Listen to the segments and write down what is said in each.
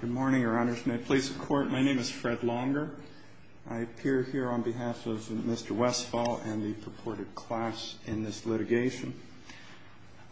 Good morning, Your Honors. May it please the Court, my name is Fred Longer. I appear here on behalf of Mr. Westfall and the purported class in this litigation.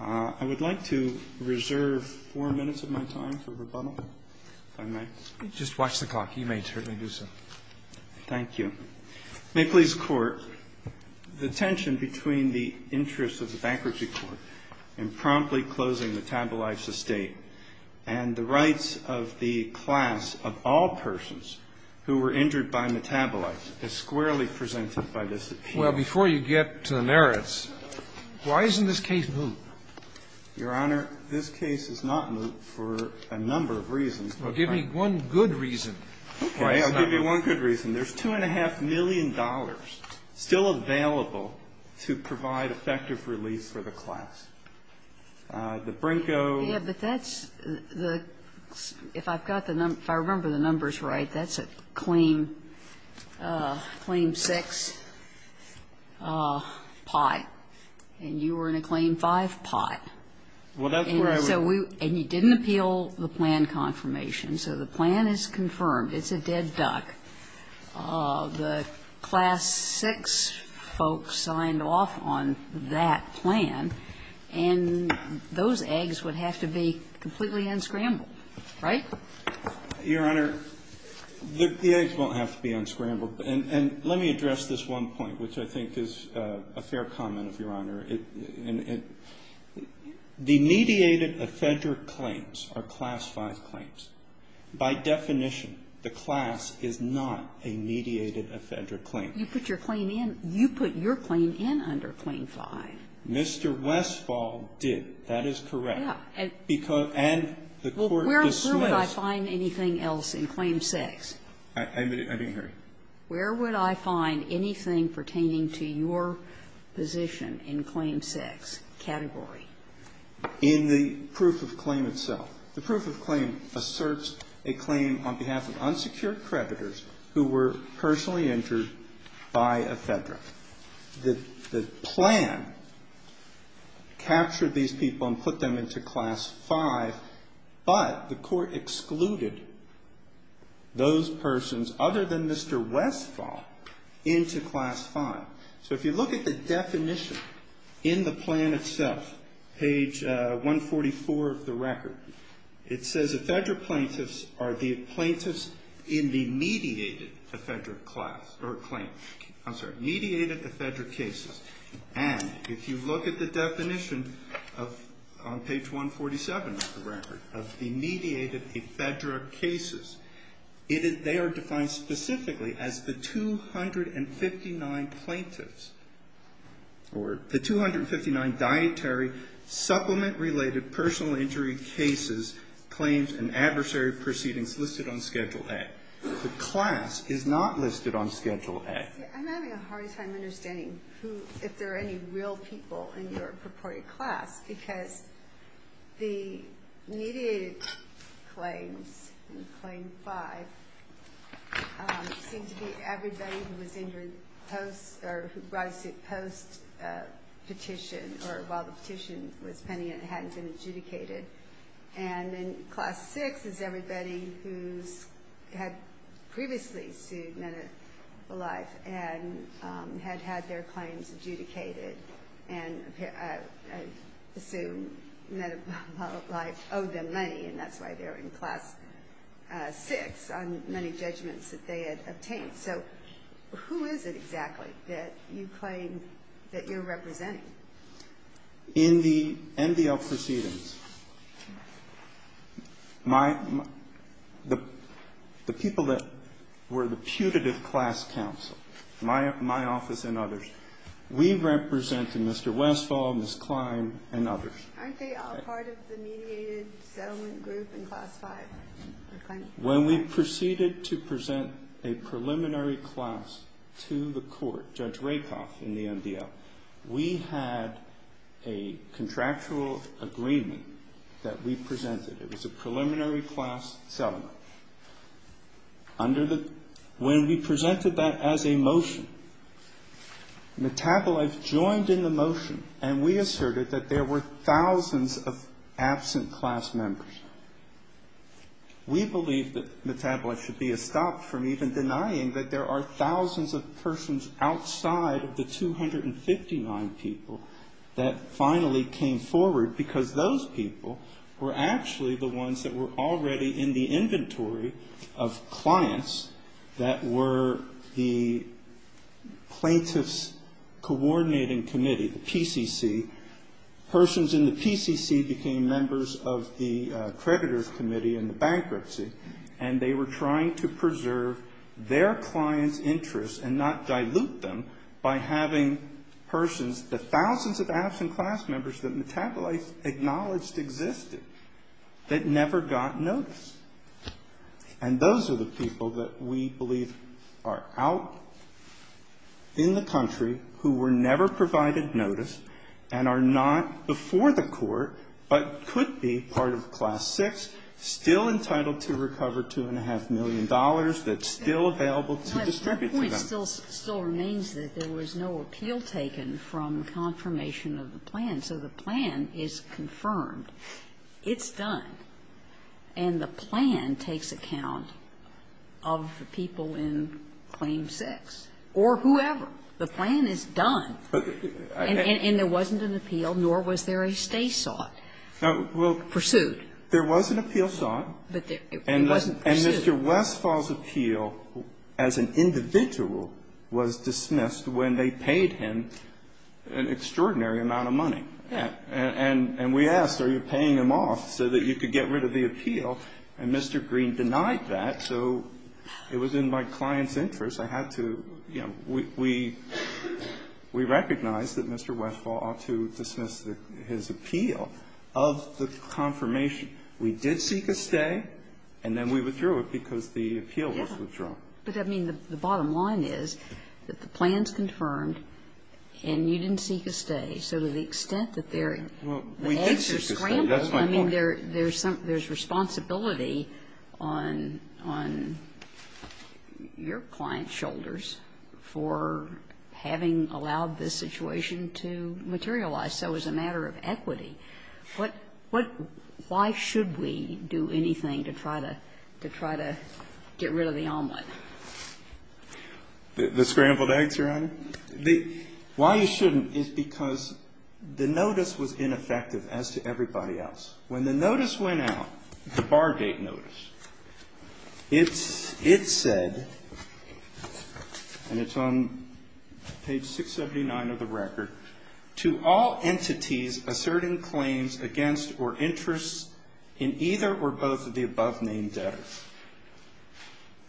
I would like to reserve four minutes of my time for rebuttal, if I may. Just watch the clock. You may certainly do so. Thank you. May it please the Court, the tension between the interests of the bankruptcy court in promptly closing Metabolites Estate and the rights of the class of all persons who were injured by Metabolites is squarely presented by this appeal. Well, before you get to the merits, why isn't this case moot? Your Honor, this case is not moot for a number of reasons. Well, give me one good reason. Okay, I'll give you one good reason. There's $2.5 million still available to provide effective release for the class. The Brinko ---- Yes, but that's the ---- if I've got the number, if I remember the numbers right, that's a claim, claim 6, pi. And you were in a claim 5, pi. Well, that's where I was. And you didn't appeal the plan confirmation, so the plan is confirmed. It's a dead duck. The class 6 folks signed off on that plan, and those eggs would have to be completely unscrambled, right? Your Honor, the eggs won't have to be unscrambled. And let me address this one point, which I think is a fair comment of Your Honor. The mediated effederate claims are class 5 claims. By definition, the class is not a mediated effederate claim. You put your claim in. You put your claim in under claim 5. Mr. Westphal did. That is correct. Yeah. And the Court dismissed ---- Well, where would I find anything else in claim 6? I didn't hear you. Where would I find anything pertaining to your position in claim 6 category? In the proof of claim itself. The proof of claim asserts a claim on behalf of unsecured creditors who were personally injured by effederate. The plan captured these people and put them into class 5, but the Court excluded those persons other than Mr. Westphal into class 5. So if you look at the definition in the plan itself, page 144 of the record, it says effederate plaintiffs are the plaintiffs in the mediated effederate class or claim. I'm sorry. Mediated effederate cases. And if you look at the definition of ---- on page 147 of the record, of the mediated effederate cases, they are defined specifically as the 259 plaintiffs or the 259 dietary supplement-related personal injury cases, claims and adversary proceedings listed on Schedule A. The class is not listed on Schedule A. I'm having a hard time understanding who, if there are any real people in your purported class, because the mediated claims in claim 5 seem to be everybody who was injured post or who was injured post-petition or while the petition was pending and hadn't been adjudicated. And then class 6 is everybody who's had previously sued, met a life, and had had their life owed them money. And that's why they're in class 6 on many judgments that they had obtained. So who is it exactly that you claim that you're representing? In the MDL proceedings, my ---- the people that were the putative class counsel, my office and others, we represented Mr. Westphal, Ms. Klein, and others. Aren't they all part of the mediated settlement group in class 5? When we proceeded to present a preliminary class to the court, Judge Rakoff in the MDL, we had a contractual agreement that we presented. It was a preliminary class settlement. Under the ---- when we presented that as a motion, metabolites joined in the motion, and we asserted that there were thousands of absent class members. We believe that metabolites should be stopped from even denying that there are thousands of persons outside of the 259 people that finally came forward, because those people were actually the ones that were already in the inventory of clients that were the plaintiffs coordinating committee, the PCC. Persons in the PCC became members of the creditors committee in the bankruptcy, and they were trying to preserve their clients' interests and not dilute them by having persons, the thousands of absent class members that metabolites acknowledged existed, that never got notice. And those are the people that we believe are out in the country who were never provided notice and are not before the court, but could be part of class 6, still entitled to recover $2.5 million that's still available to distribute to them. And the point still remains that there was no appeal taken from confirmation of the plan. So the plan is confirmed. It's done. And the plan takes account of the people in Claim 6 or whoever. The plan is done. And there wasn't an appeal, nor was there a stay sought. Pursued. There was an appeal sought. But it wasn't pursued. And Mr. Westphal's appeal as an individual was dismissed when they paid him an extraordinary amount of money. And we asked, are you paying him off so that you could get rid of the appeal? And Mr. Green denied that. So it was in my client's interest. I had to, you know, we recognized that Mr. Westphal ought to dismiss his appeal of the confirmation. We did seek a stay, and then we withdrew it because the appeal was withdrawn. But, I mean, the bottom line is that the plan's confirmed, and you didn't seek a stay. So to the extent that there are extra scrambles, I mean, there's responsibility on your client's shoulders for having allowed this situation to materialize. So it was a matter of equity. Why should we do anything to try to get rid of the omelet? The scrambled eggs, Your Honor? Why you shouldn't is because the notice was ineffective as to everybody else. When the notice went out, the Bargate notice, it said, and it's on page 679 of the above-named debtors.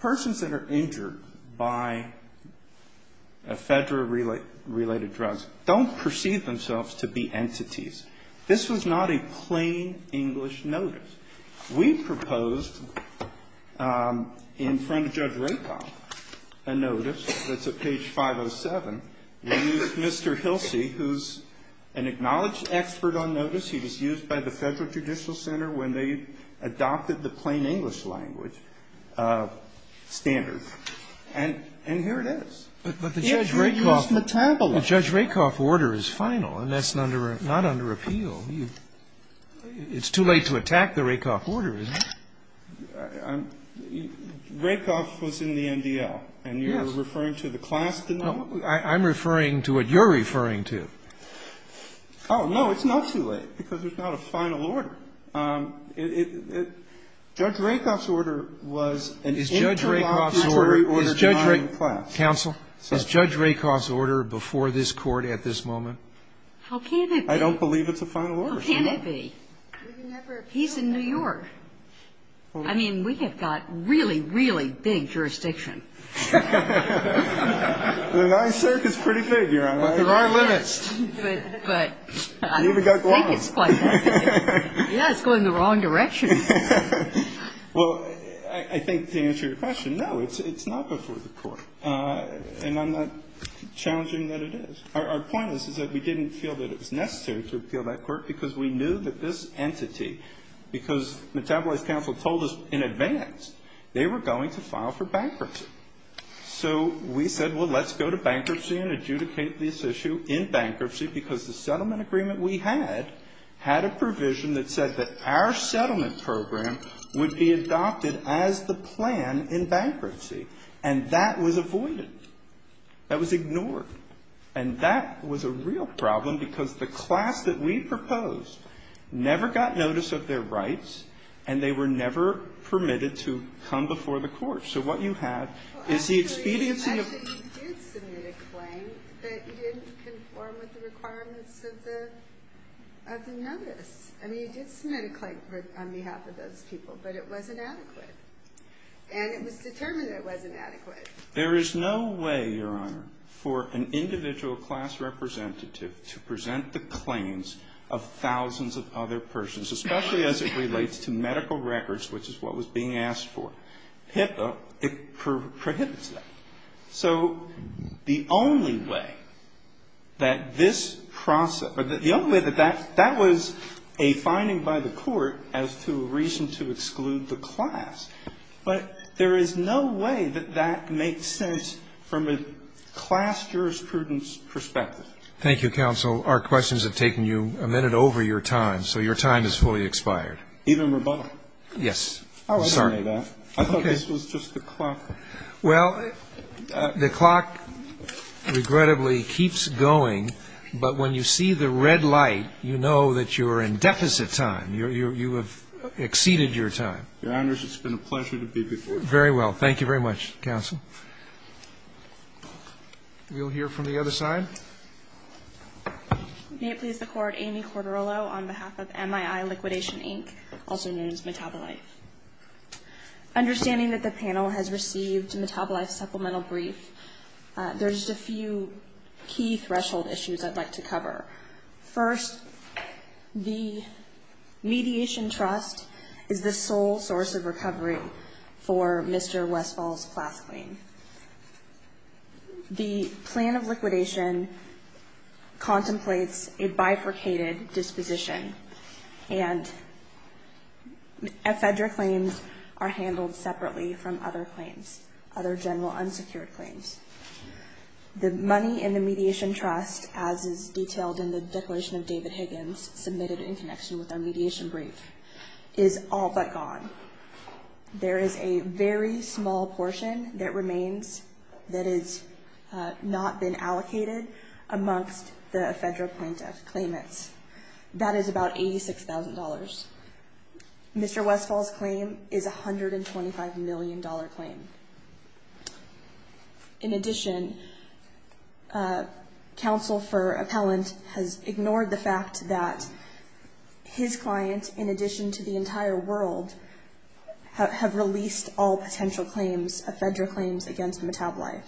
Persons that are injured by ephedra-related drugs don't perceive themselves to be entities. This was not a plain English notice. We proposed in front of Judge Rakoff a notice that's at page 507. We used Mr. Hilsey, who's an acknowledged expert on notice. He was used by the Federal Judicial Center when they adopted the plain English language standard. And here it is. He had reduced metabolism. But the Judge Rakoff order is final, and that's not under appeal. It's too late to attack the Rakoff order, isn't it? Rakoff was in the NDL. Yes. And you're referring to the class denial? I'm referring to what you're referring to. Oh, no. It's not too late because there's not a final order. Judge Rakoff's order was an interlocking jury order denying class. Counsel, is Judge Rakoff's order before this Court at this moment? How can it be? I don't believe it's a final order. How can it be? He's in New York. I mean, we have got really, really big jurisdiction. The NYSERC is pretty big here. There are limits. But I think it's going the wrong direction. Well, I think to answer your question, no, it's not before the Court. And I'm not challenging that it is. Our point is, is that we didn't feel that it was necessary to appeal that Court because we knew that this entity, because Metabolize Counsel told us in advance, they were going to file for bankruptcy. So we said, well, let's go to bankruptcy and adjudicate this issue in bankruptcy because the settlement agreement we had had a provision that said that our settlement program would be adopted as the plan in bankruptcy. And that was avoided. That was ignored. And that was a real problem because the class that we proposed never got notice of So what you have is the expediency of Well, actually, you mentioned you did submit a claim that you didn't conform with the requirements of the notice. I mean, you did submit a claim on behalf of those people, but it wasn't adequate. And it was determined that it wasn't adequate. There is no way, Your Honor, for an individual class representative to present the claims of thousands of other persons, especially as it relates to medical records, which is what was being asked for. It prohibits that. So the only way that this process or the only way that that was a finding by the court as to a reason to exclude the class, but there is no way that that makes sense from a class jurisprudence perspective. Thank you, counsel. Our questions have taken you a minute over your time, so your time is fully expired. Even rebuttal? Yes. Oh, I didn't know that. I thought this was just the clock. Well, the clock, regrettably, keeps going. But when you see the red light, you know that you're in deficit time. You have exceeded your time. Your Honors, it's been a pleasure to be before you. Very well. Thank you very much, counsel. We'll hear from the other side. May it please the Court, Amy Corderolo on behalf of MII Liquidation, Inc., also known as Metabolife. Understanding that the panel has received a Metabolife supplemental brief, there are just a few key threshold issues I'd like to cover. First, the mediation trust is the sole source of recovery for Mr. Westfall's class claim. The plan of liquidation contemplates a bifurcated disposition, and ephedra claims are handled separately from other claims, other general unsecured claims. The money in the mediation trust, as is detailed in the declaration of David Higgins submitted in connection with our mediation brief, is all but gone. There is a very small portion that remains that has not been allocated amongst the ephedra plaintiff claimants. That is about $86,000. Mr. Westfall's claim is a $125 million claim. In addition, counsel for appellant has ignored the fact that his client, in addition to the entire world, have released all potential claims, ephedra claims against Metabolife.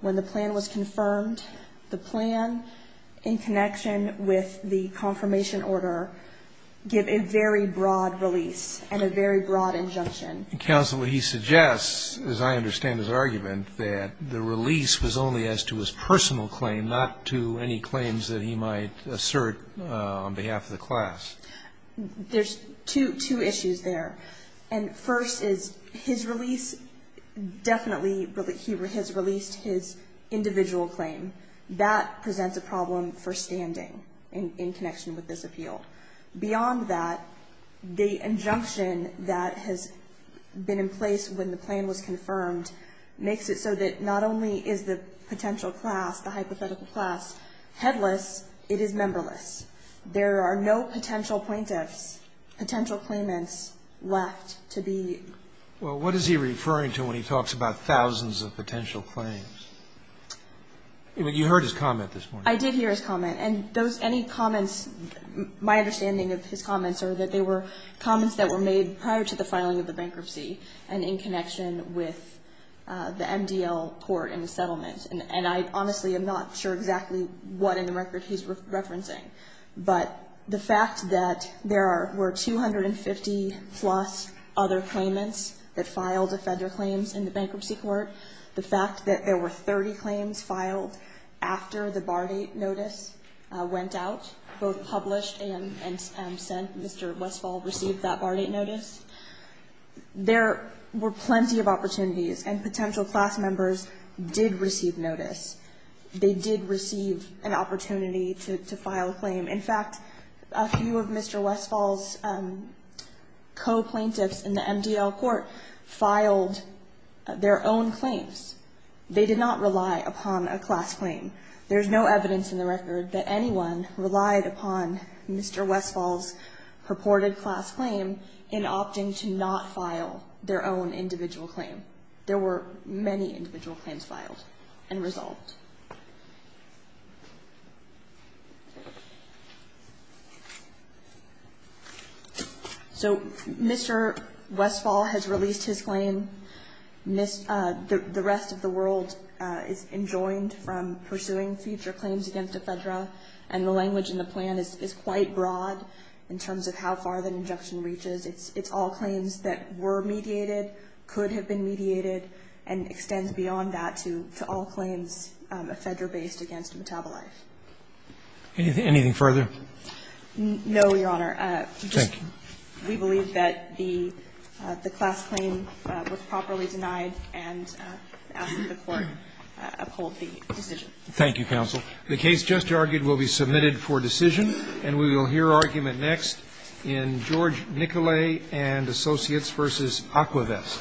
When the plan was confirmed, the plan in connection with the confirmation order gave a very broad release and a very broad injunction. Counsel, he suggests, as I understand his argument, that the release was only as to his personal claim, not to any claims that he might assert on behalf of the class. There's two issues there. And first is his release, definitely he has released his individual claim. That presents a problem for standing in connection with this appeal. Beyond that, the injunction that has been in place when the plan was confirmed makes it so that not only is the potential class, the hypothetical class, headless, it is memberless. There are no potential plaintiffs, potential claimants left to be used. Well, what is he referring to when he talks about thousands of potential claims? You heard his comment this morning. I did hear his comment. And those any comments, my understanding of his comments, are that they were comments that were made prior to the filing of the bankruptcy and in connection with the MDL court in the settlement. And I honestly am not sure exactly what in the record he's referencing. But the fact that there were 250-plus other claimants that filed a Federal claims in the bankruptcy court, the fact that there were 30 claims filed after the bar date notice went out, both published and sent, Mr. Westphal received that bar date notice, there were plenty of opportunities. And potential class members did receive notice. They did receive an opportunity to file a claim. In fact, a few of Mr. Westphal's co-plaintiffs in the MDL court filed their own claims. They did not rely upon a class claim. There is no evidence in the record that anyone relied upon Mr. Westphal's purported class claim in opting to not file their own individual claim. There were many individual claims filed and resolved. So Mr. Westphal has released his claim. The rest of the world is enjoined from pursuing future claims against Ephedra, and the language in the plan is quite broad in terms of how far the injunction reaches. It's all claims that were mediated, could have been mediated, and extends beyond that to all claims Ephedra-based against Metabolife. Anything further? No, Your Honor. Thank you. We believe that the class claim was properly denied and ask that the Court uphold the decision. Thank you, counsel. The case just argued will be submitted for decision, and we will hear argument next in George Nicolay and Associates v. Aquavest.